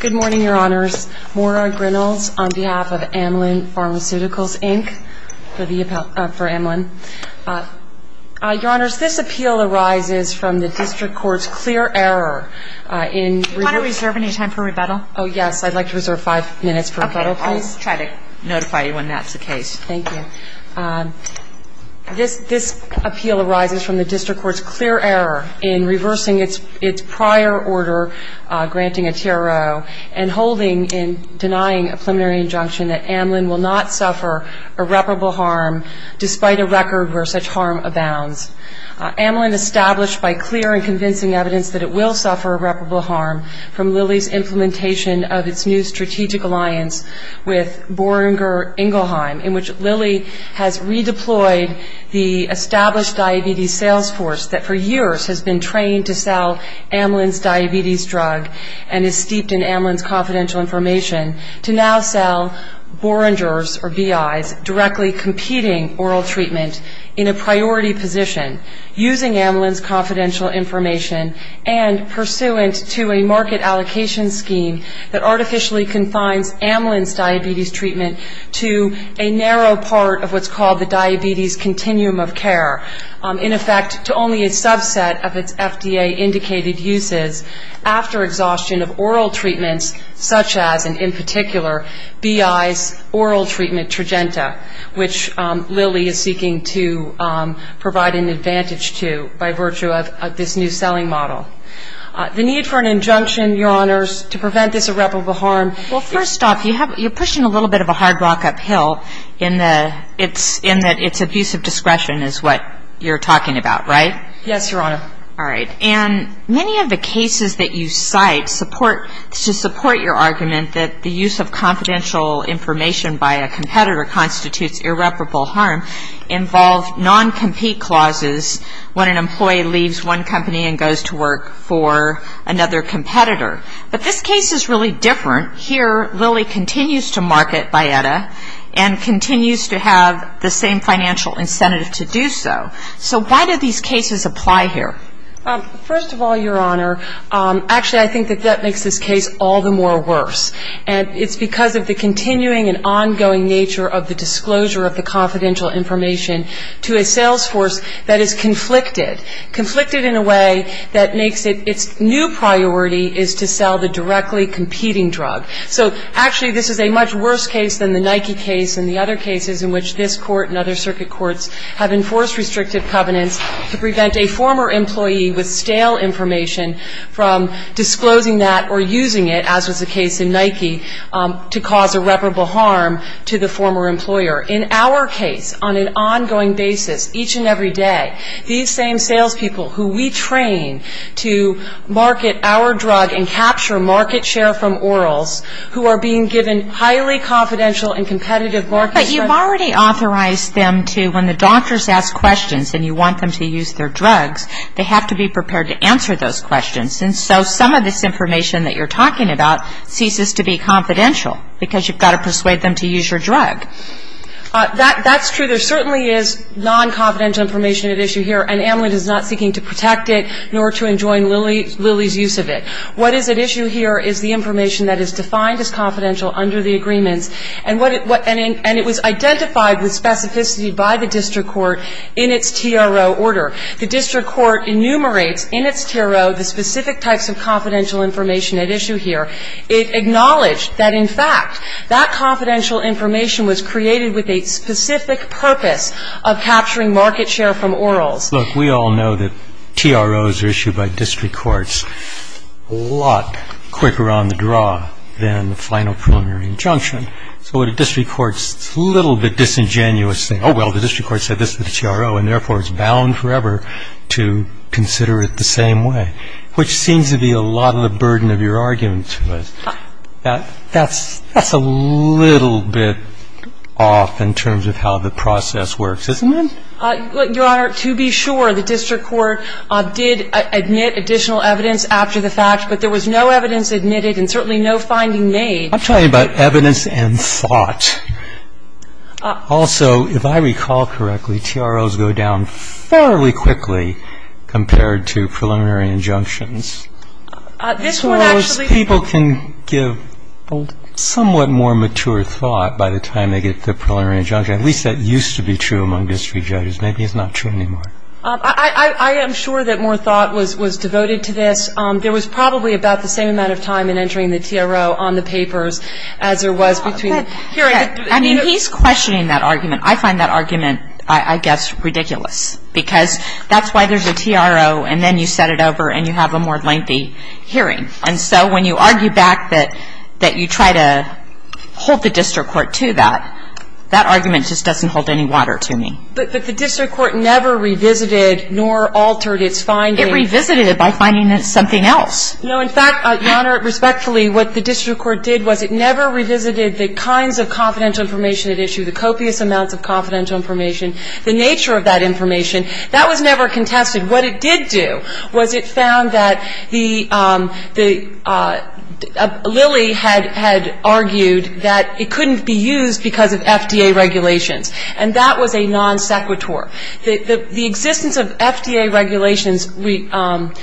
Good morning, Your Honors. Maura Grinnells on behalf of Amelin Pharmaceuticals, Inc. for Amelin. Your Honors, this appeal arises from the District Court's clear error in reversing... Do you want to reserve any time for rebuttal? Oh, yes. I'd like to reserve five minutes for rebuttal, please. Okay. I'll try to notify you when that's the case. Thank you. This appeal arises from the District Court's clear error in reversing its prior order granting a TRO and holding in denying a preliminary injunction that Amelin will not suffer irreparable harm despite a record where such harm abounds. Amelin established by clear and convincing evidence that it will suffer irreparable harm from Lilly's implementation of its new strategic alliance with Boehringer Ingelheim in which Lilly has redeployed the established diabetes sales force that for years has been trained to sell Amelin's diabetes drug and is steeped in Amelin's confidential information to now sell Boehringer's, or B.I.'s, directly competing oral treatment in a priority position using Amelin's confidential information and pursuant to a market allocation scheme that artificially confines Amelin's diabetes treatment to a narrow part of what's called the diabetes continuum of care. In effect, to only a subset of its FDA-indicated uses after exhaustion of oral treatments such as, and in particular, B.I.'s oral treatment, Tragenta, which Lilly is seeking to provide an advantage to by virtue of this new selling model. The need for an injunction, Your Honors, to prevent this irreparable harm Well, first off, you're pushing a little bit of a hard rock uphill in that it's abusive discretion is what you're talking about, right? Yes, Your Honor. All right. And many of the cases that you cite support your argument that the use of confidential information by a competitor constitutes irreparable harm involve non-compete clauses when an employee leaves one company and goes to work for another competitor. But this case is really different. Here Lilly continues to market Bietta and continues to have the same financial incentive to do so. So why do these cases apply here? First of all, Your Honor, actually I think that that makes this case all the more worse. And it's because of the continuing and ongoing nature of the disclosure of the confidential information to a sales force that is conflicted. Conflicted in a way that makes it its new priority is to sell the directly competing drug. So, actually, this is a much worse case than the Nike case and the other cases in which this Court and other circuit courts have enforced restrictive covenants to prevent a former employee with stale information from disclosing that or using it, as was the case in Nike, to cause irreparable harm to the former employer. In our case, on an ongoing basis, each and every day, these same salespeople who we train to market our drug and capture market share from orals who are being given highly confidential and competitive market share. But you've already authorized them to, when the doctors ask questions and you want them to use their drugs, they have to be prepared to answer those questions. And so some of this information that you're talking about ceases to be confidential because you've got to persuade them to use your drug. That's true. There certainly is non-confidential information at issue here, and Amlin is not seeking to protect it nor to enjoin Lilly's use of it. What is at issue here is the information that is defined as confidential under the agreements, and it was identified with specificity by the district court in its TRO order. The district court enumerates in its TRO the specific types of confidential information at issue here. It acknowledged that, in fact, that confidential information was created with a specific purpose of capturing market share from orals. Look, we all know that TROs are issued by district courts a lot quicker on the draw than the final preliminary injunction. So what a district court's little bit disingenuous thing, oh, well, the district court said this to the TRO, and therefore it's bound forever to consider it the same way, which seems to be a lot of the burden of your argument to us. That's a little bit off in terms of how the process works, isn't it? Your Honor, to be sure, the district court did admit additional evidence after the fact, but there was no evidence admitted and certainly no finding made. I'm talking about evidence and thought. Also, if I recall correctly, TROs go down fairly quickly compared to preliminary injunctions. So people can give somewhat more mature thought by the time they get to the preliminary injunction. At least that used to be true among district judges. Maybe it's not true anymore. I am sure that more thought was devoted to this. There was probably about the same amount of time in entering the TRO on the papers as there was between. I mean, he's questioning that argument. I find that argument, I guess, ridiculous because that's why there's a TRO and then you set it over and you have a more lengthy hearing. And so when you argue back that you try to hold the district court to that, that argument just doesn't hold any water to me. But the district court never revisited nor altered its findings. It revisited it by finding something else. No, in fact, Your Honor, respectfully, what the district court did was it never revisited the kinds of confidential information it issued, the copious amounts of confidential information, the nature of that information. That was never contested. What it did do was it found that Lilly had argued that it couldn't be used because of FDA regulations, and that was a non sequitur. The existence of FDA regulations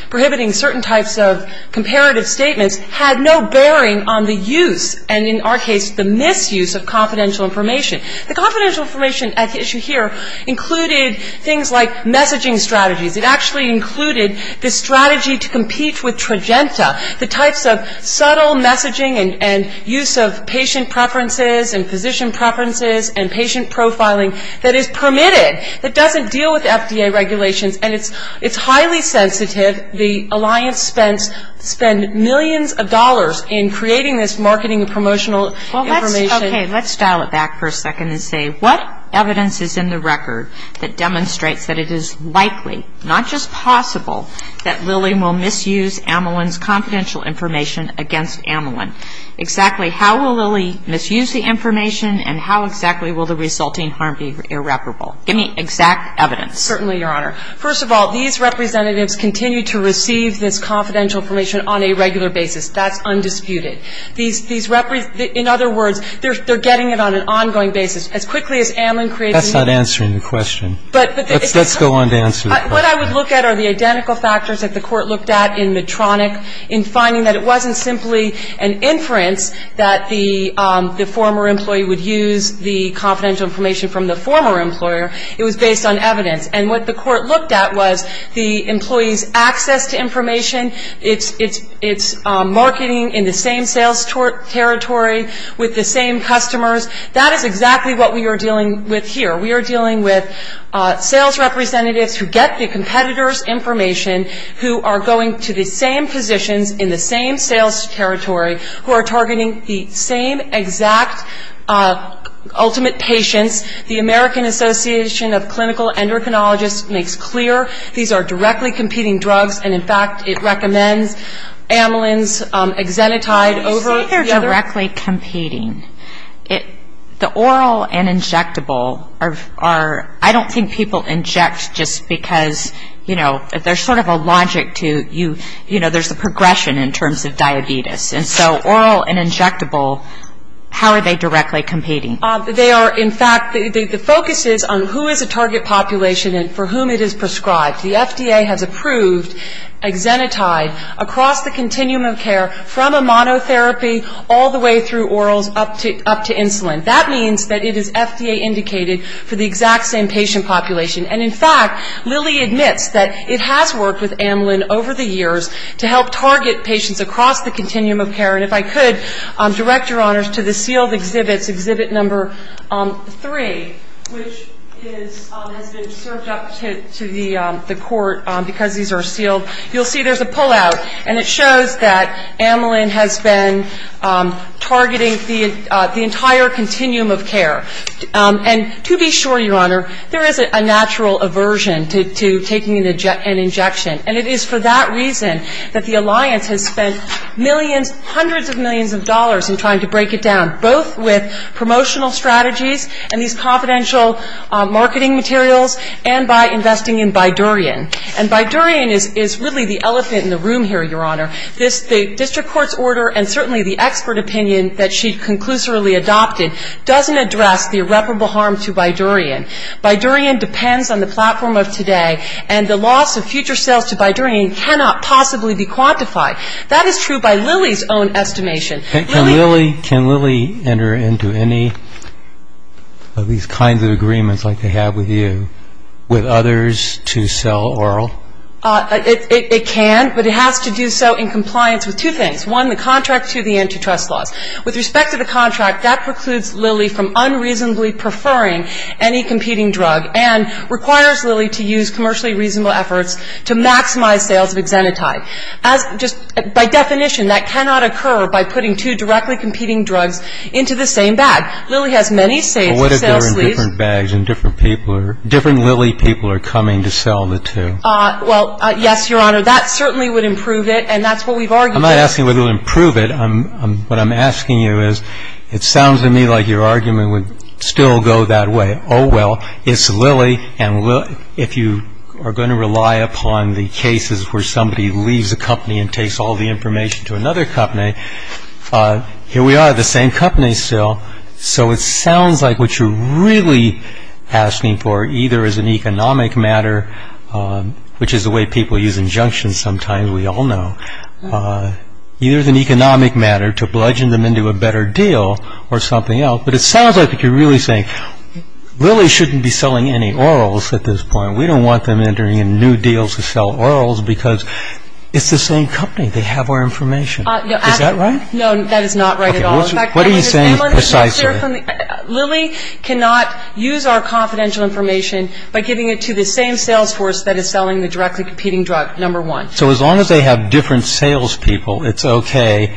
prohibiting certain types of comparative statements had no bearing on the use and, in our case, the misuse of confidential information. The confidential information at issue here included things like messaging strategies. It actually included the strategy to compete with Trojanta, the types of subtle messaging and use of patient preferences and physician preferences and patient profiling that is permitted, that doesn't deal with FDA regulations, and it's highly sensitive. The alliance spent millions of dollars in creating this marketing and promotional information. Okay. Let's dial it back for a second and say, what evidence is in the record that demonstrates that it is likely, not just possible, that Lilly will misuse Amelin's confidential information against Amelin? Exactly how will Lilly misuse the information, and how exactly will the resulting harm be irreparable? Give me exact evidence. Certainly, Your Honor. First of all, these representatives continue to receive this confidential information on a regular basis. That's undisputed. In other words, they're getting it on an ongoing basis. As quickly as Amelin created it. That's not answering the question. Let's go on to answer the question. What I would look at are the identical factors that the Court looked at in Medtronic in finding that it wasn't simply an inference that the former employee would use the confidential information from the former employer. It was based on evidence. And what the Court looked at was the employee's access to information, its marketing in the same sales territory with the same customers. That is exactly what we are dealing with here. We are dealing with sales representatives who get the competitor's information, who are going to the same positions in the same sales territory, who are targeting the same exact ultimate patients, the American Association of Clinical Endocrinologists makes clear these are directly competing drugs, and, in fact, it recommends Amelin's Exenatide over the other. When you say they're directly competing, the oral and injectable are, I don't think people inject just because, you know, there's sort of a logic to, you know, there's a progression in terms of diabetes. And so oral and injectable, how are they directly competing? They are, in fact, the focus is on who is a target population and for whom it is prescribed. The FDA has approved Exenatide across the continuum of care from a monotherapy all the way through orals up to insulin. That means that it is FDA-indicated for the exact same patient population. And, in fact, Lilly admits that it has worked with Amelin over the years to help target patients across the continuum of care. And if I could direct, Your Honors, to the sealed exhibits, exhibit number three, which has been served up to the court because these are sealed. You'll see there's a pullout, and it shows that Amelin has been targeting the entire continuum of care. And to be sure, Your Honor, there is a natural aversion to taking an injection, and it is for that reason that the Alliance has spent millions, hundreds of millions of dollars in trying to break it down, both with promotional strategies and these confidential marketing materials and by investing in Bidurian. And Bidurian is really the elephant in the room here, Your Honor. The district court's order and certainly the expert opinion that she conclusively adopted doesn't address the irreparable harm to Bidurian. Bidurian depends on the platform of today, and the loss of future sales to Bidurian cannot possibly be quantified. That is true by Lilly's own estimation. Can Lilly enter into any of these kinds of agreements like they have with you with others to sell oral? It can, but it has to do so in compliance with two things. One, the contract. Two, the antitrust laws. With respect to the contract, that precludes Lilly from unreasonably preferring any competing drug and requires Lilly to use commercially reasonable efforts to maximize sales of Xenotide. Just by definition, that cannot occur by putting two directly competing drugs into the same bag. Lilly has many sales leads. But what if they're in different bags and different people are ñ different Lilly people are coming to sell the two? Well, yes, Your Honor. That certainly would improve it, and that's what we've argued. I'm not asking whether it would improve it. What I'm asking you is, it sounds to me like your argument would still go that way. Oh, well, it's Lilly, and if you are going to rely upon the cases where somebody leaves a company and takes all the information to another company, here we are, the same company still. So it sounds like what you're really asking for either is an economic matter, which is the way people use injunctions sometimes, we all know. Either it's an economic matter to bludgeon them into a better deal or something else. But it sounds like you're really saying Lilly shouldn't be selling any orals at this point. We don't want them entering in new deals to sell orals because it's the same company. They have our information. Is that right? No, that is not right at all. What are you saying precisely? Lilly cannot use our confidential information by giving it to the same sales force that is selling the directly competing drug, number one. So as long as they have different sales people, it's okay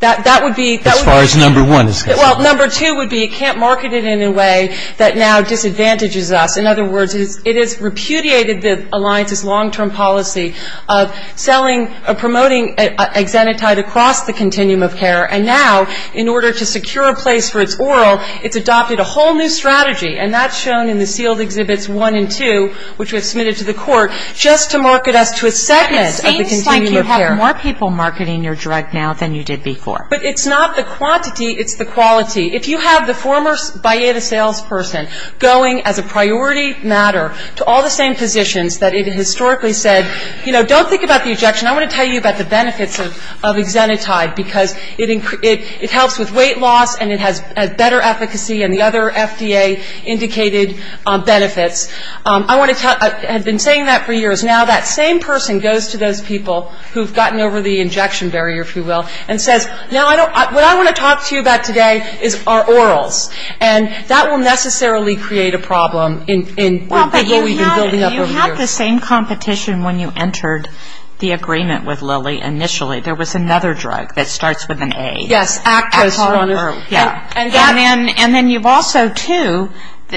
as far as number one is concerned? Well, number two would be it can't market it in a way that now disadvantages us. In other words, it has repudiated the alliance's long-term policy of selling or promoting Exenatide across the continuum of care, and now in order to secure a place for its oral, it's adopted a whole new strategy, and that's shown in the sealed exhibits one and two, which we have submitted to the court, just to market us to a segment of the continuum of care. It seems like you have more people marketing your drug now than you did before. But it's not the quantity. It's the quality. If you have the former Bayeda salesperson going as a priority matter to all the same positions that it historically said, you know, don't think about the ejection. I want to tell you about the benefits of Exenatide because it helps with weight loss and it has better efficacy and the other FDA-indicated benefits. I want to tell you, I've been saying that for years. Now that same person goes to those people who have gotten over the injection barrier, if you will, and says, now I don't, what I want to talk to you about today is our orals. And that will necessarily create a problem in what we've been building up over the years. Well, but you had the same competition when you entered the agreement with Lilly initially. There was another drug that starts with an A. Yes, Actos. Yeah. And then you've also, too,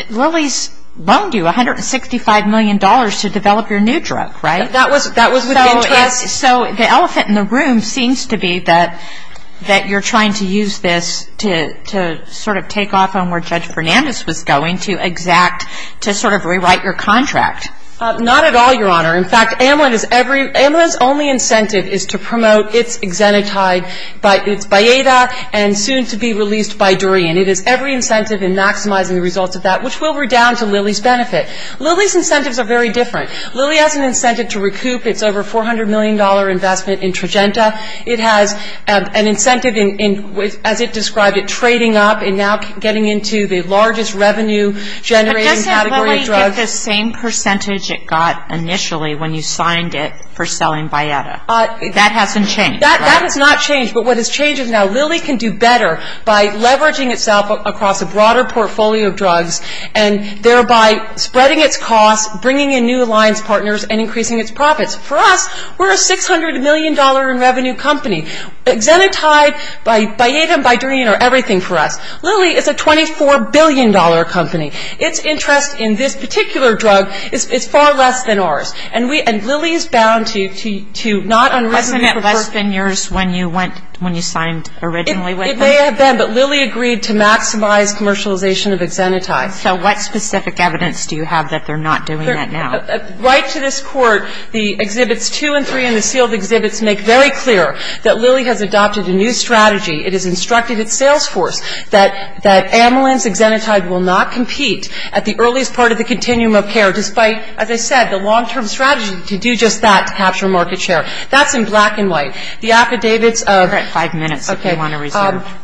Lilly's loaned you $165 million to develop your new drug, right? That was with interest. So the elephant in the room seems to be that you're trying to use this to sort of take off on where Judge Fernandez was going to exact, to sort of rewrite your contract. Not at all, Your Honor. In fact, Amlin is every, Amlin's only incentive is to promote its Exenatide by its Bayeda and soon to be released by Durian. It is every incentive in maximizing the results of that, which will redound to Lilly's benefit. Lilly's incentives are very different. Lilly has an incentive to recoup its over $400 million investment in Tragenta. It has an incentive in, as it described it, trading up and now getting into the largest revenue generating category of drugs. But doesn't Lilly get the same percentage it got initially when you signed it for selling Bayeda? That hasn't changed, right? That has not changed. But what has changed is now Lilly can do better by leveraging itself across a broader portfolio of drugs and thereby spreading its costs, bringing in new alliance partners, and increasing its profits. For us, we're a $600 million in revenue company. Exenatide, Bayeda, and Bayedrian are everything for us. Lilly is a $24 billion company. Its interest in this particular drug is far less than ours. And Lilly is bound to not unresonate. Has that less been yours when you went, when you signed originally with them? It may have been, but Lilly agreed to maximize commercialization of Exenatide. So what specific evidence do you have that they're not doing that now? Right to this Court, the Exhibits 2 and 3 and the sealed exhibits make very clear that Lilly has adopted a new strategy. It has instructed its sales force that Amelin's Exenatide will not compete at the earliest part of the continuum of care, despite, as I said, the long-term strategy to do just that, to capture market share. That's in black and white. The affidavits of ‑‑ You've got five minutes if you want to reserve. Okay.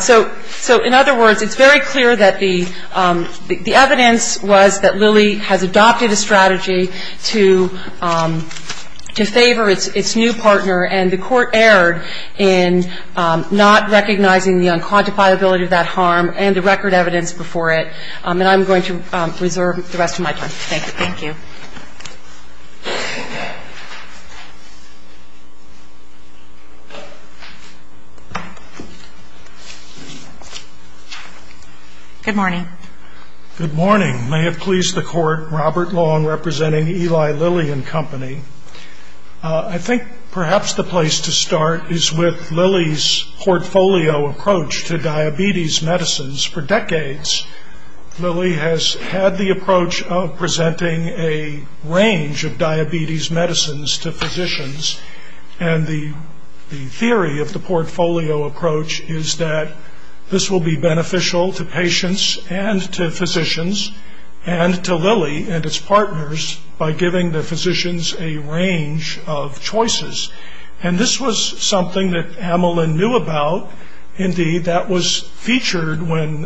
So in other words, it's very clear that the evidence was that Lilly has adopted a strategy to favor its new partner, and the Court erred in not recognizing the unquantifiability of that harm and the record evidence before it. And I'm going to reserve the rest of my time. Thank you. Thank you. Thank you. Good morning. Good morning. May it please the Court, Robert Long representing Eli Lilly and Company. I think perhaps the place to start is with Lilly's portfolio approach to diabetes medicines. For decades, Lilly has had the approach of presenting a range of diabetes medicines to physicians, and the theory of the portfolio approach is that this will be beneficial to patients and to physicians and to Lilly and its partners by giving the physicians a range of choices. And this was something that Amelin knew about. Indeed, that was featured when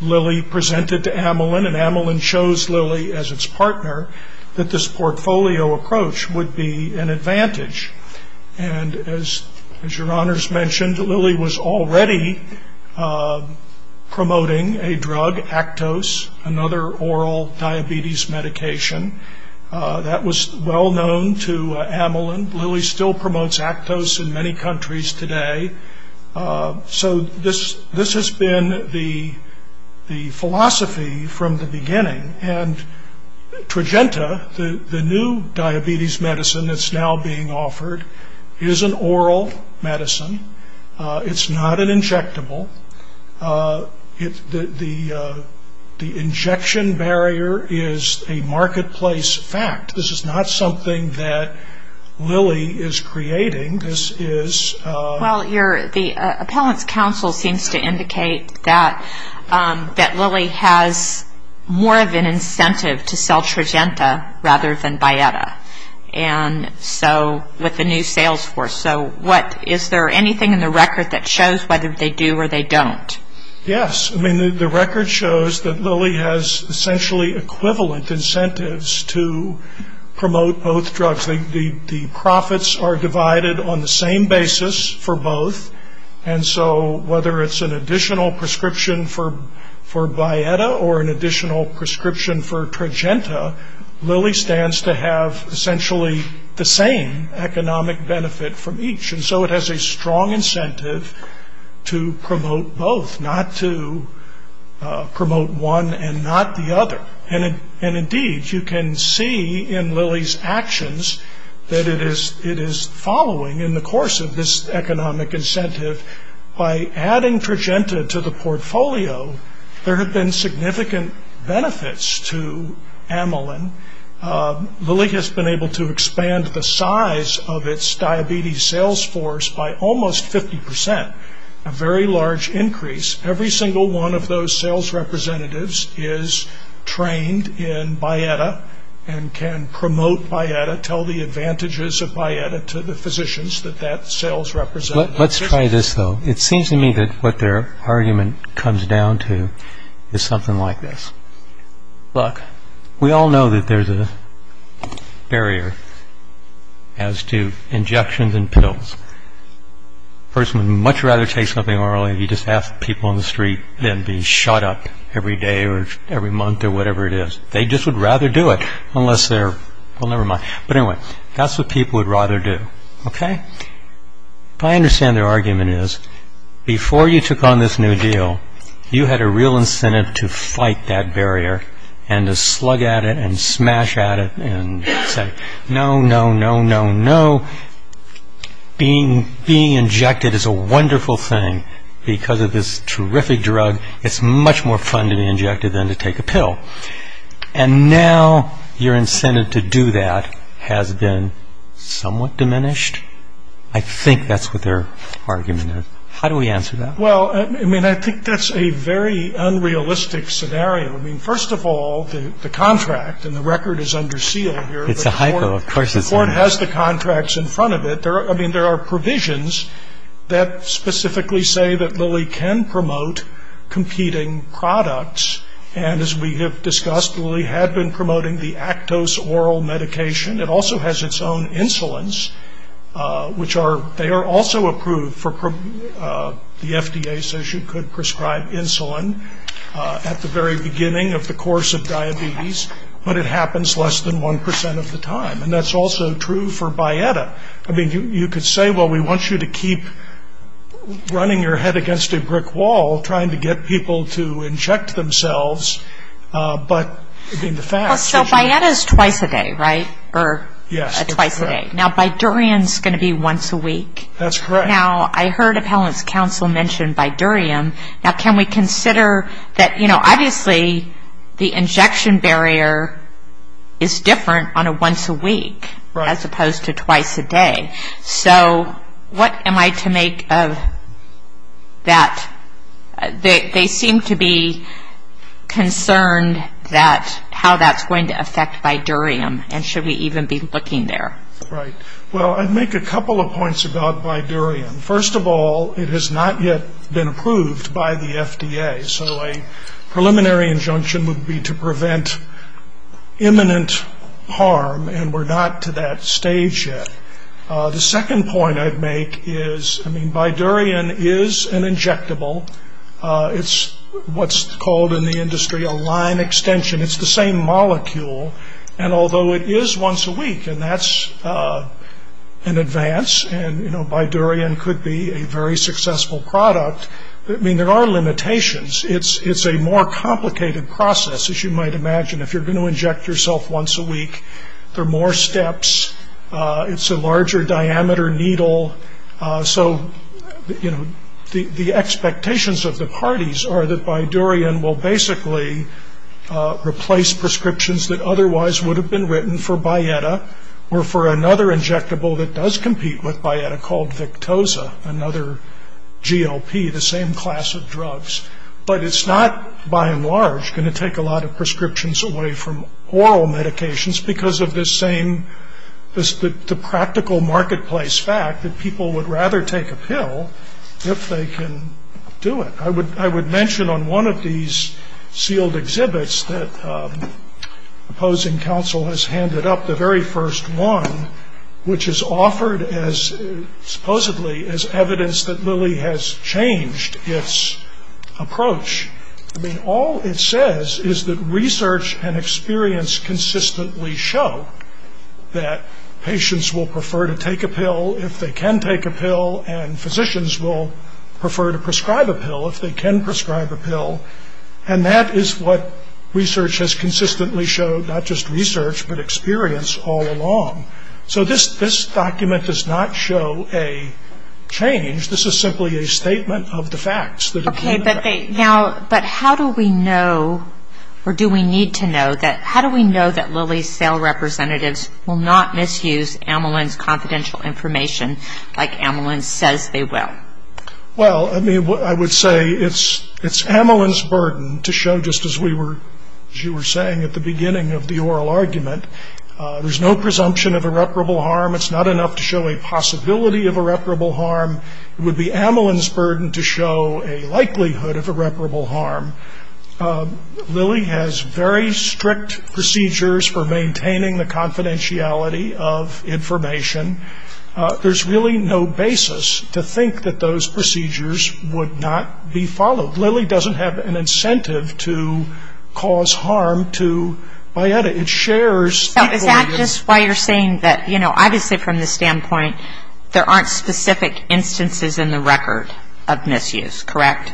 Lilly presented to Amelin, and Amelin chose Lilly as its partner that this portfolio approach would be an advantage. And as your honors mentioned, Lilly was already promoting a drug, Actos, another oral diabetes medication. That was well known to Amelin. Lilly still promotes Actos in many countries today. So this has been the philosophy from the beginning. And Trojanta, the new diabetes medicine that's now being offered, is an oral medicine. It's not an injectable. The injection barrier is a marketplace fact. This is not something that Lilly is creating. This is... Well, the appellant's counsel seems to indicate that Lilly has more of an incentive to sell Trojanta rather than Bietta with the new sales force. So is there anything in the record that shows whether they do or they don't? Yes. I mean, the record shows that Lilly has essentially equivalent incentives to promote both drugs. The profits are divided on the same basis for both. And so whether it's an additional prescription for Bietta or an additional prescription for Trojanta, Lilly stands to have essentially the same economic benefit from each. And so it has a strong incentive to promote both, not to promote one and not the other. And indeed, you can see in Lilly's actions that it is following in the course of this economic incentive. By adding Trojanta to the portfolio, there have been significant benefits to amylin. Lilly has been able to expand the size of its diabetes sales force by almost 50 percent, a very large increase. Every single one of those sales representatives is trained in Bietta and can promote Bietta, tell the advantages of Bietta to the physicians that that sales representative... Let's try this, though. It seems to me that what their argument comes down to is something like this. Look, we all know that there's a barrier as to injections and pills. A person would much rather take something orally than be shot up every day or every month or whatever it is. They just would rather do it unless they're... Well, never mind. But anyway, that's what people would rather do, okay? But I understand their argument is, before you took on this new deal, you had a real incentive to fight that barrier and to slug at it and smash at it and say, no, no, no, no, no, being injected is a wonderful thing because of this terrific drug. It's much more fun to be injected than to take a pill. And now your incentive to do that has been somewhat diminished. I think that's what their argument is. How do we answer that? Well, I mean, I think that's a very unrealistic scenario. I mean, first of all, the contract and the record is under seal here. It's a hypo, of course it's under seal. The court has the contracts in front of it. I mean, there are provisions that specifically say that Lilly can promote competing products, and as we have discussed, Lilly had been promoting the Actos oral medication. It also has its own insulins, which are also approved for the FDA, so she could prescribe insulin at the very beginning of the course of diabetes, but it happens less than 1% of the time. And that's also true for Bayetta. I mean, you could say, well, we want you to keep running your head against a brick wall, trying to get people to inject themselves, but in the facts. So Bayetta is twice a day, right, or twice a day? Yes, that's correct. Now, Bidurium is going to be once a week. That's correct. Now, I heard appellant's counsel mention Bidurium. Now, can we consider that, you know, obviously the injection barrier is different on a once a week as opposed to twice a day. So what am I to make of that? They seem to be concerned how that's going to affect Bidurium, and should we even be looking there. Right. Well, I'd make a couple of points about Bidurium. First of all, it has not yet been approved by the FDA, so a preliminary injunction would be to prevent imminent harm, and we're not to that stage yet. The second point I'd make is, I mean, Bidurium is an injectable. It's what's called in the industry a line extension. It's the same molecule, and although it is once a week, and that's an advance, and, you know, Bidurium could be a very successful product, I mean, there are limitations. It's a more complicated process, as you might imagine. If you're going to inject yourself once a week, there are more steps. It's a larger diameter needle. So, you know, the expectations of the parties are that Bidurium will basically replace prescriptions that otherwise would have been written for Bietta or for another injectable that does compete with Bietta called Victoza, another GLP, the same class of drugs. But it's not, by and large, going to take a lot of prescriptions away from oral medications because of this same practical marketplace fact that people would rather take a pill if they can do it. I would mention on one of these sealed exhibits that opposing counsel has handed up, the very first one, which is offered as supposedly as evidence that Lilly has changed its approach. I mean, all it says is that research and experience consistently show that patients will prefer to take a pill if they can take a pill, and physicians will prefer to prescribe a pill if they can prescribe a pill, and that is what research has consistently showed, not just research, but experience all along. So this document does not show a change. This is simply a statement of the facts. Okay, but how do we know, or do we need to know, how do we know that Lilly's sale representatives will not misuse Amelin's confidential information like Amelin says they will? Well, I mean, I would say it's Amelin's burden to show, just as you were saying at the beginning of the oral argument, there's no presumption of irreparable harm. It's not enough to show a possibility of irreparable harm. It would be Amelin's burden to show a likelihood of irreparable harm. Lilly has very strict procedures for maintaining the confidentiality of information. There's really no basis to think that those procedures would not be followed. Lilly doesn't have an incentive to cause harm to Bietta. It shares that burden. Is that just why you're saying that, you know, obviously from the standpoint, there aren't specific instances in the record of misuse, correct?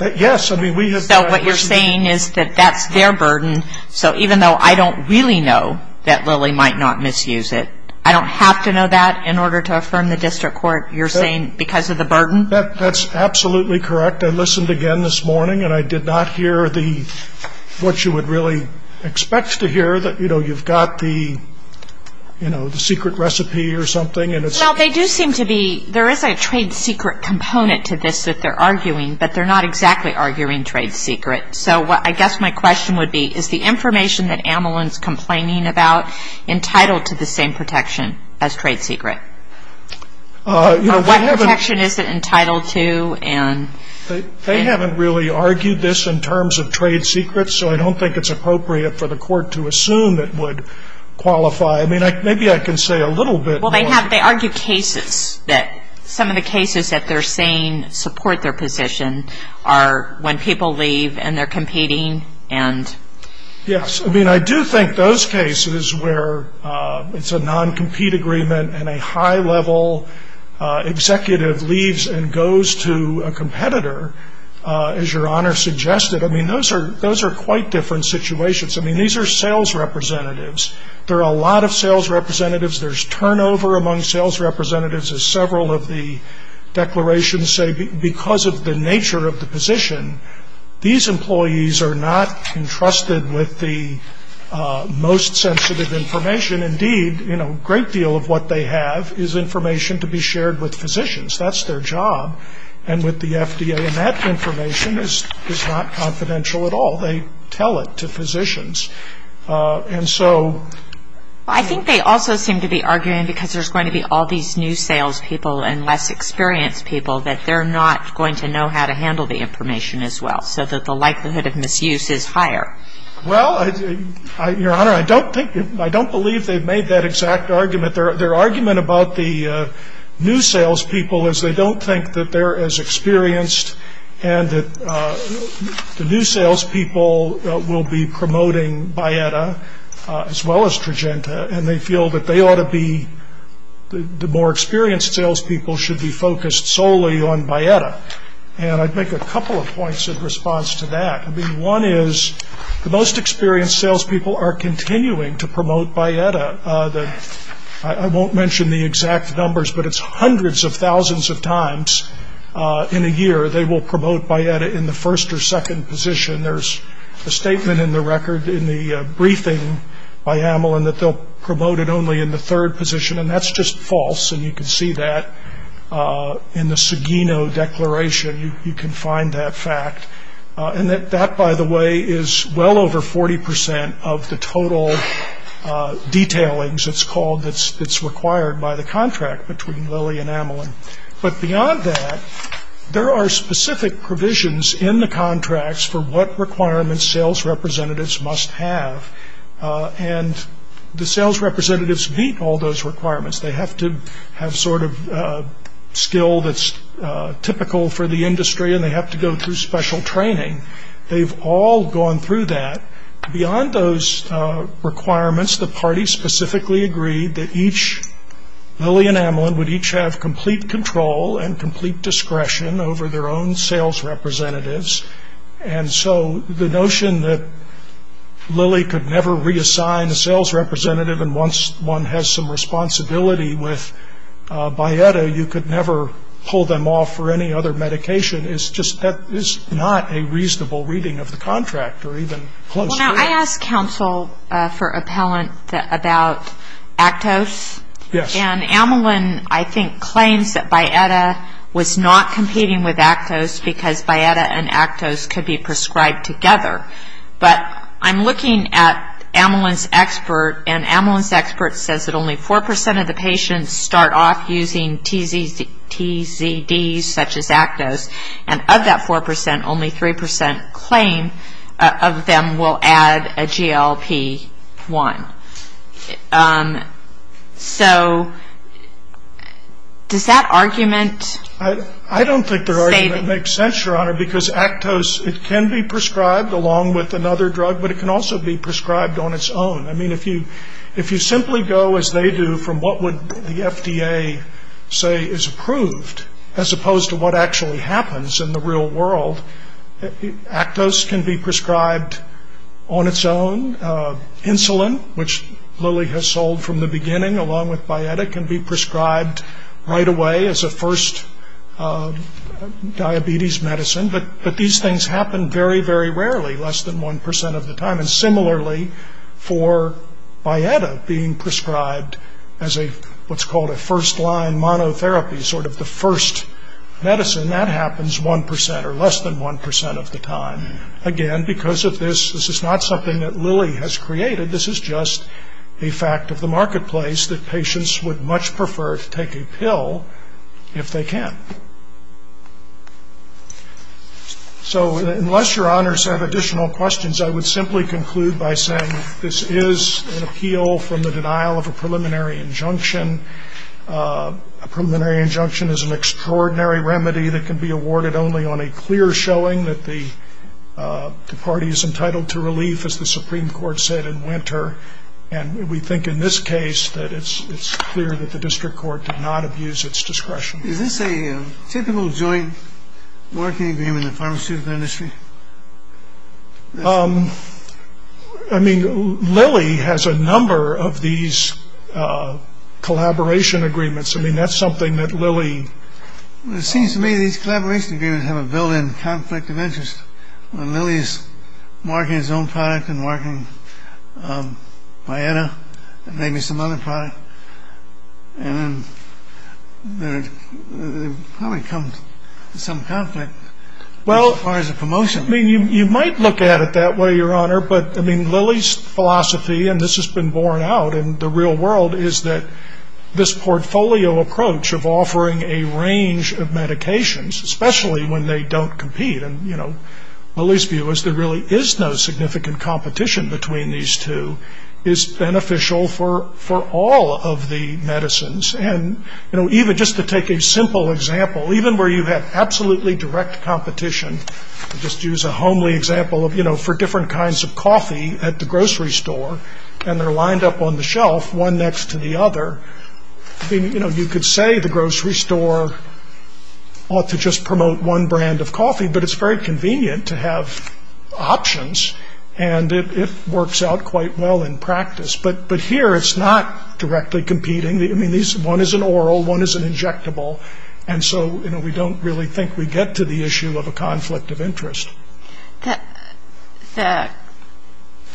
Yes. So what you're saying is that that's their burden, so even though I don't really know that Lilly might not misuse it, I don't have to know that in order to affirm the district court, you're saying, because of the burden? That's absolutely correct. I listened again this morning, and I did not hear the, what you would really expect to hear, that, you know, you've got the, you know, the secret recipe or something. Well, they do seem to be, there is a trade secret component to this that they're arguing, but they're not exactly arguing trade secret. So I guess my question would be, is the information that Amelin's complaining about entitled to the same protection as trade secret? Or what protection is it entitled to? They haven't really argued this in terms of trade secrets, so I don't think it's appropriate for the court to assume it would qualify. I mean, maybe I can say a little bit more. Well, they have, they argue cases, that some of the cases that they're saying support their position are when people leave and they're competing and. Yes. I mean, I do think those cases where it's a non-compete agreement and a high-level executive leaves and goes to a competitor, as Your Honor suggested, I mean, those are quite different situations. I mean, these are sales representatives. There are a lot of sales representatives. There's turnover among sales representatives, as several of the declarations say, because of the nature of the position. These employees are not entrusted with the most sensitive information. Indeed, you know, a great deal of what they have is information to be shared with physicians. That's their job. And with the FDA, that information is not confidential at all. They tell it to physicians. And so. I think they also seem to be arguing, because there's going to be all these new sales people and less experienced people, that they're not going to know how to handle the information as well, so that the likelihood of misuse is higher. Well, Your Honor, I don't think, I don't believe they've made that exact argument. Their argument about the new sales people is they don't think that they're as experienced and that the new sales people will be promoting Bietta as well as Trojanta, and they feel that they ought to be, the more experienced sales people should be focused solely on Bietta. And I'd make a couple of points in response to that. I mean, one is the most experienced sales people are continuing to promote Bietta. I won't mention the exact numbers, but it's hundreds of thousands of times in a year they will promote Bietta in the first or second position. There's a statement in the record, in the briefing by Hamelin, that they'll promote it only in the third position, and that's just false. And you can see that in the Seguino Declaration. You can find that fact. And that, by the way, is well over 40% of the total detailings, it's called, that's required by the contract between Lilly and Hamelin. But beyond that, there are specific provisions in the contracts for what requirements sales representatives must have. And the sales representatives meet all those requirements. They have to have sort of skill that's typical for the industry, and they have to go through special training. They've all gone through that. Beyond those requirements, the party specifically agreed that each, Lilly and Hamelin would each have complete control and complete discretion over their own sales representatives. And so the notion that Lilly could never reassign a sales representative and once one has some responsibility with Bietta, you could never pull them off for any other medication is just, that is not a reasonable reading of the contract, or even close to it. Well, now, I asked counsel for appellant about Actos. Yes. And Hamelin, I think, claims that Bietta was not competing with Actos because Bietta and Actos could be prescribed together. But I'm looking at Hamelin's expert, and Hamelin's expert says that only 4% of the patients start off using TZDs such as Actos, and of that 4%, only 3% claim of them will add a GLP-1. So does that argument say that? It makes sense, Your Honor, because Actos, it can be prescribed along with another drug, but it can also be prescribed on its own. I mean, if you simply go as they do from what would the FDA say is approved, as opposed to what actually happens in the real world, Actos can be prescribed on its own. Insulin, which Lilly has sold from the beginning along with Bietta, can be prescribed right away as a first diabetes medicine, but these things happen very, very rarely, less than 1% of the time. And similarly, for Bietta being prescribed as what's called a first-line monotherapy, sort of the first medicine, that happens 1% or less than 1% of the time. Again, because of this, this is not something that Lilly has created. This is just a fact of the marketplace that patients would much prefer to take a pill if they can. So unless Your Honors have additional questions, I would simply conclude by saying this is an appeal from the denial of a preliminary injunction. A preliminary injunction is an extraordinary remedy that can be awarded only on a clear showing that the party is entitled to relief, as the Supreme Court said in Winter, and we think in this case that it's clear that the district court did not abuse its discretion. Is this a typical joint working agreement in the pharmaceutical industry? I mean, Lilly has a number of these collaboration agreements. I mean, that's something that Lilly… It seems to me these collaboration agreements have a built-in conflict of interest. When Lilly is marketing his own product and marketing Bietta and maybe some other product, and then there probably comes some conflict as far as the promotion. Well, you might look at it that way, Your Honor, but I mean Lilly's philosophy, and this has been borne out in the real world, is that this portfolio approach of offering a range of medications, especially when they don't compete, and, you know, Lilly's view is there really is no significant competition between these two, is beneficial for all of the medicines. And, you know, even just to take a simple example, even where you have absolutely direct competition, just use a homely example of, you know, for different kinds of coffee at the grocery store, and they're lined up on the shelf, one next to the other. You know, you could say the grocery store ought to just promote one brand of coffee, but it's very convenient to have options, and it works out quite well in practice. But here it's not directly competing. I mean, one is an oral, one is an injectable, and so, you know, we don't really think we get to the issue of a conflict of interest.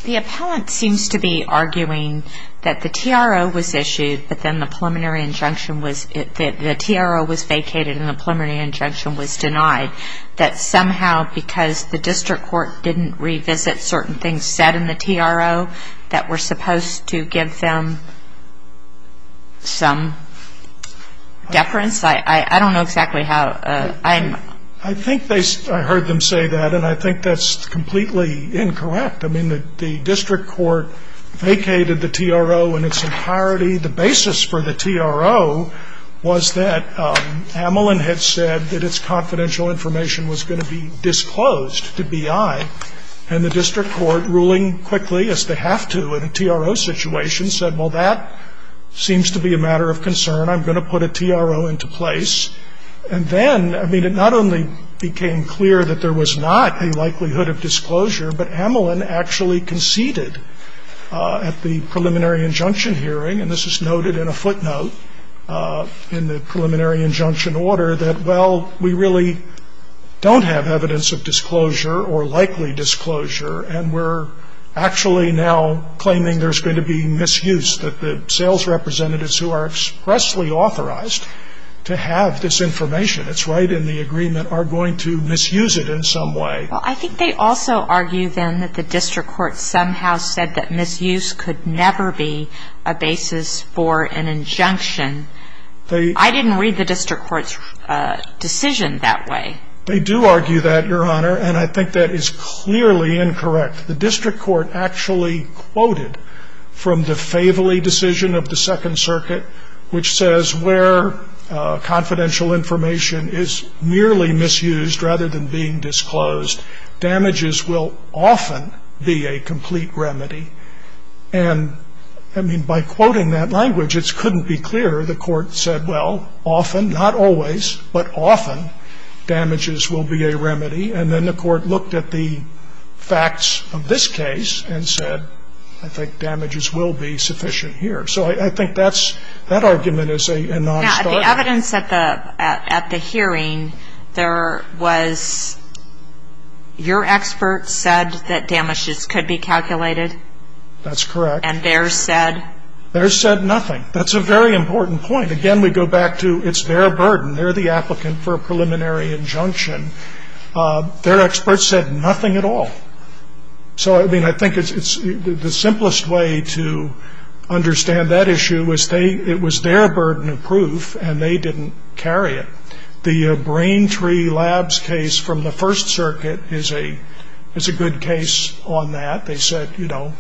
The appellant seems to be arguing that the TRO was issued, but then the preliminary injunction was that the TRO was vacated, and the preliminary injunction was denied, that somehow because the district court didn't revisit certain things said in the TRO that were supposed to give them some deference. I don't know exactly how. I think I heard them say that, and I think that's completely incorrect. I mean, the district court vacated the TRO in its entirety. The basis for the TRO was that Amelin had said that its confidential information was going to be disclosed to BI, and the district court, ruling quickly as they have to in a TRO situation, said, well, that seems to be a matter of concern. I'm going to put a TRO into place. And then, I mean, it not only became clear that there was not a likelihood of disclosure, but Amelin actually conceded at the preliminary injunction hearing, and this is noted in a footnote in the preliminary injunction order, that, well, we really don't have evidence of disclosure or likely disclosure, and we're actually now claiming there's going to be misuse, that the sales representatives who are expressly authorized to have this information, it's right in the agreement, are going to misuse it in some way. Well, I think they also argue then that the district court somehow said that misuse could never be a basis for an injunction. I didn't read the district court's decision that way. They do argue that, Your Honor, and I think that is clearly incorrect. The district court actually quoted from the Faveli decision of the Second Circuit, which says where confidential information is merely misused rather than being disclosed, damages will often be a complete remedy. And, I mean, by quoting that language, it couldn't be clearer. The court said, well, often, not always, but often, damages will be a remedy. And then the court looked at the facts of this case and said, I think damages will be sufficient here. So I think that's, that argument is a nonstarter. Now, the evidence at the hearing, there was, your expert said that damages could be calculated? That's correct. And theirs said? Theirs said nothing. That's a very important point. Again, we go back to it's their burden. They're the applicant for a preliminary injunction. Their expert said nothing at all. So, I mean, I think the simplest way to understand that issue was it was their burden of proof, and they didn't carry it. The Braintree Labs case from the First Circuit is a good case on that. They said, you know,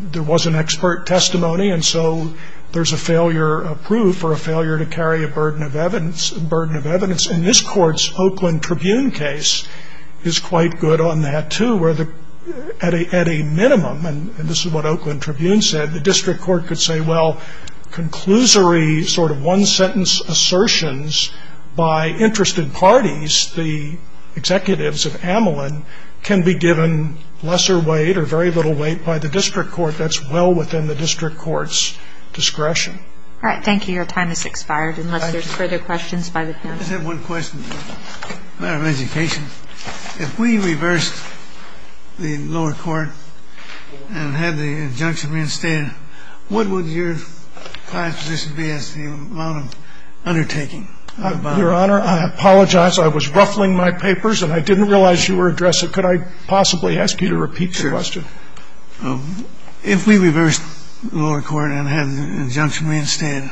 there was an expert testimony, and so there's a failure of proof or a failure to carry a burden of evidence. And this Court's Oakland Tribune case is quite good on that, too, where at a minimum, and this is what Oakland Tribune said, the district court could say, well, conclusory sort of one-sentence assertions by interested parties, the executives of Amelin, can be given lesser weight or very little weight by the district court. That's well within the district court's discretion. All right. Thank you. Your time has expired unless there's further questions by the panel. I just have one question, Madam Education. If we reversed the lower court and had the injunction reinstated, what would your client's position be as to the amount of undertaking? Your Honor, I apologize. I was ruffling my papers, and I didn't realize you were addressing. Could I possibly ask you to repeat the question? Sure. If we reversed the lower court and had the injunction reinstated,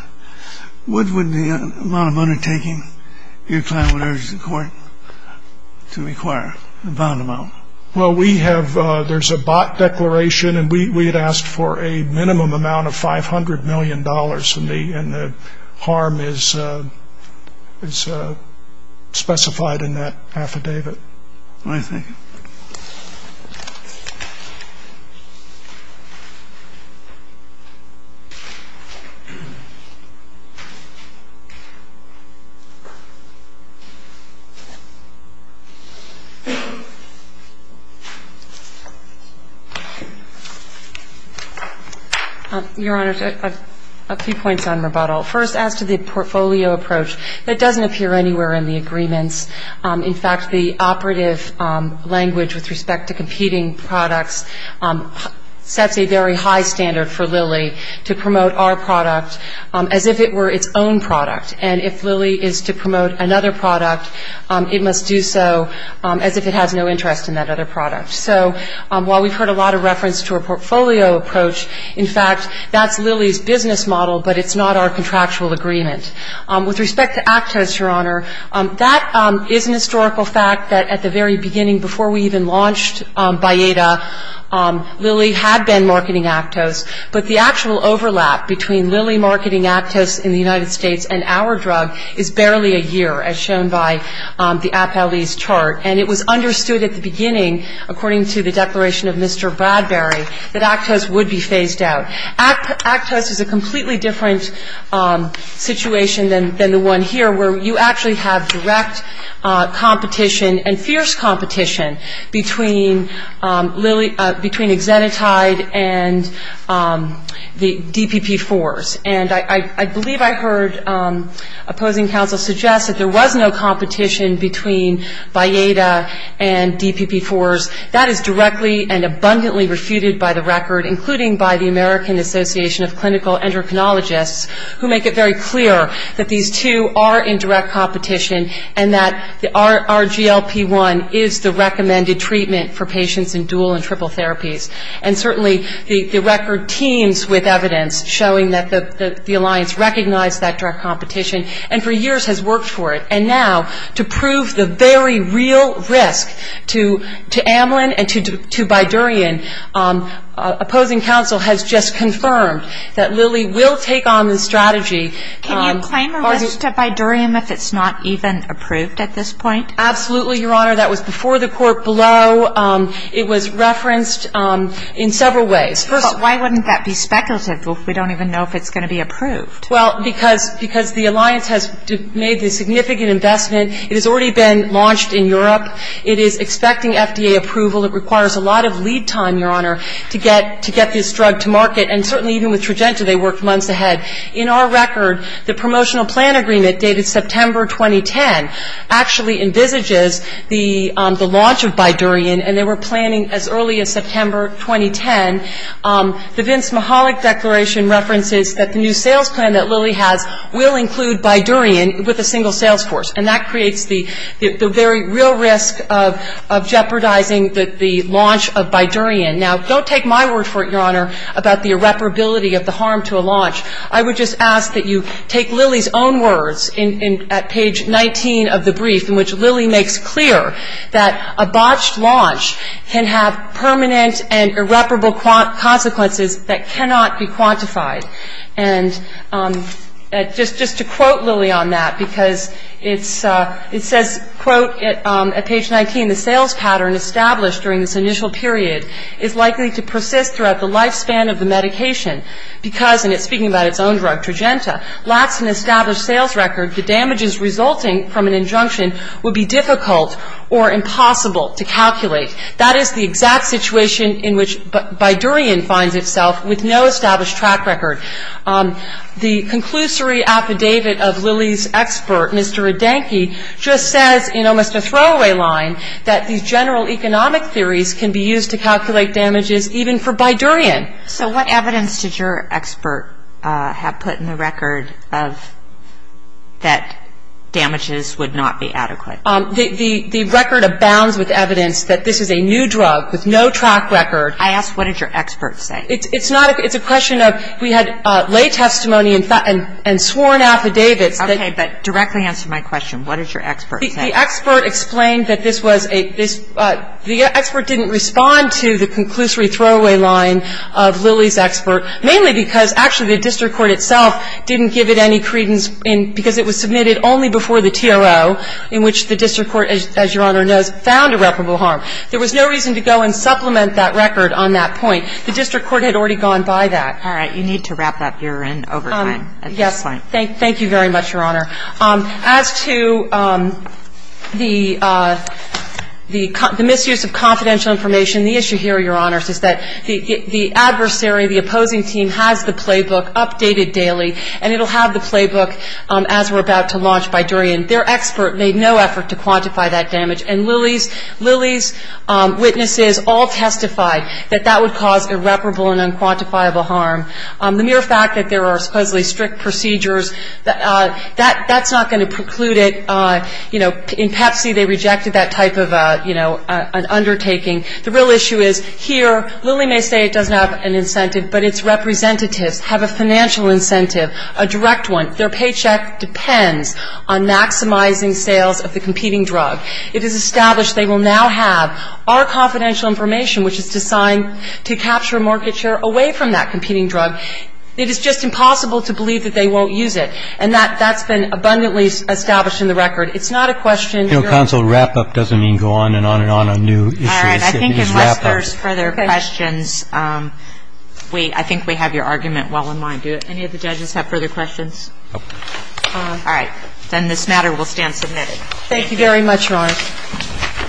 what would the amount of undertaking your client would urge the court to require, the bound amount? Well, we have ‑‑ there's a bot declaration, and we had asked for a minimum amount of $500 million, and the harm is specified in that affidavit. Your Honor, I have a few points on rebuttal. First, as to the portfolio approach, that doesn't appear anywhere in the agreements. In fact, the options that we have in the agreement, with respect to competing products, sets a very high standard for Lilly to promote our product as if it were its own product. And if Lilly is to promote another product, it must do so as if it has no interest in that other product. So while we've heard a lot of reference to a portfolio approach, in fact, that's Lilly's business model, but it's not our contractual agreement. With respect to Actos, Your Honor, that is an historical fact that at the very beginning, before we even launched Bayada, Lilly had been marketing Actos. But the actual overlap between Lilly marketing Actos in the United States and our drug is barely a year, as shown by the APLE's chart. And it was understood at the beginning, according to the declaration of Mr. Bradbury, that Actos would be phased out. Actos is a completely different situation than the one here, where you actually have direct competition and fierce competition between Exenatide and the DPP-4s. And I believe I heard opposing counsel suggest that there was no competition between Bayada and DPP-4s. That is directly and abundantly refuted by the record, including by the American Association of Clinical Endocrinologists, who make it very clear that these two are in direct competition and that RGLP-1 is the recommended treatment for patients in dual and triple therapies. And certainly the record teems with evidence showing that the alliance recognized that direct competition and for years has worked for it. And now to prove the very real risk to Amlin and to Bidurian, opposing counsel has just confirmed that Lilly will take on the strategy. Can you claim a risk to Bidurian if it's not even approved at this point? Absolutely, Your Honor. That was before the court blow. It was referenced in several ways. But why wouldn't that be speculative if we don't even know if it's going to be approved? Well, because the alliance has made the significant investment. It has already been launched in Europe. It is expecting FDA approval. It requires a lot of lead time, Your Honor, to get this drug to market. And certainly even with Trojanta, they worked months ahead. In our record, the promotional plan agreement dated September 2010 actually envisages the launch of Bidurian, and they were planning as early as September 2010. The Vince Mihalik declaration references that the new sales plan that Lilly has will include Bidurian with a single sales force. And that creates the very real risk of jeopardizing the launch of Bidurian. Now, don't take my word for it, Your Honor, about the irreparability of the harm to a launch. I would just ask that you take Lilly's own words at page 19 of the brief in which Lilly makes clear that a botched launch can have permanent and irreparable consequences that cannot be quantified. And just to quote Lilly on that, because it says, quote, at page 19, the sales pattern established during this initial period is likely to persist throughout the lifespan of the medication because, and it's speaking about its own drug, Trojanta, lacks an established sales record, the damages resulting from an injunction would be difficult or impossible to calculate. That is the exact situation in which Bidurian finds itself with no established track record. The conclusory affidavit of Lilly's expert, Mr. Redenke, just says in almost a throwaway line that these general economic theories can be used to calculate damages even for Bidurian. So what evidence did your expert have put in the record of that damages would not be adequate? The record abounds with evidence that this is a new drug with no track record. I ask, what did your expert say? It's not a question of we had lay testimony and sworn affidavits. Okay. But directly answer my question. What did your expert say? The expert explained that this was a – the expert didn't respond to the conclusory throwaway line of Lilly's expert, mainly because actually the district court itself didn't give it any credence because it was submitted only before the TRO, in which the district court, as Your Honor knows, found irreparable harm. There was no reason to go and supplement that record on that point. The district court had already gone by that. All right. You need to wrap up. You're in overtime at this point. Yes. Thank you very much, Your Honor. As to the misuse of confidential information, the issue here, Your Honor, is that the adversary, the opposing team, has the playbook updated daily, and it will have the playbook as we're about to launch by durian. Their expert made no effort to quantify that damage. And Lilly's – Lilly's witnesses all testified that that would cause irreparable and unquantifiable harm. The mere fact that there are supposedly strict procedures, that's not going to preclude it. You know, in Pepsi, they rejected that type of, you know, undertaking. The real issue is here, Lilly may say it doesn't have an incentive, but its representatives have a financial incentive, a direct one. Their paycheck depends on maximizing sales of the competing drug. It is established they will now have our confidential information, which is designed to capture a market share away from that competing drug. It is just impossible to believe that they won't use it. And that's been abundantly established in the record. It's not a question, Your Honor. You know, counsel, wrap-up doesn't mean go on and on and on on new issues. It is wrap-up. All right. I think unless there's further questions, we – I think we have your argument well in mind. Do any of the judges have further questions? No. All right. Then this matter will stand submitted. Thank you.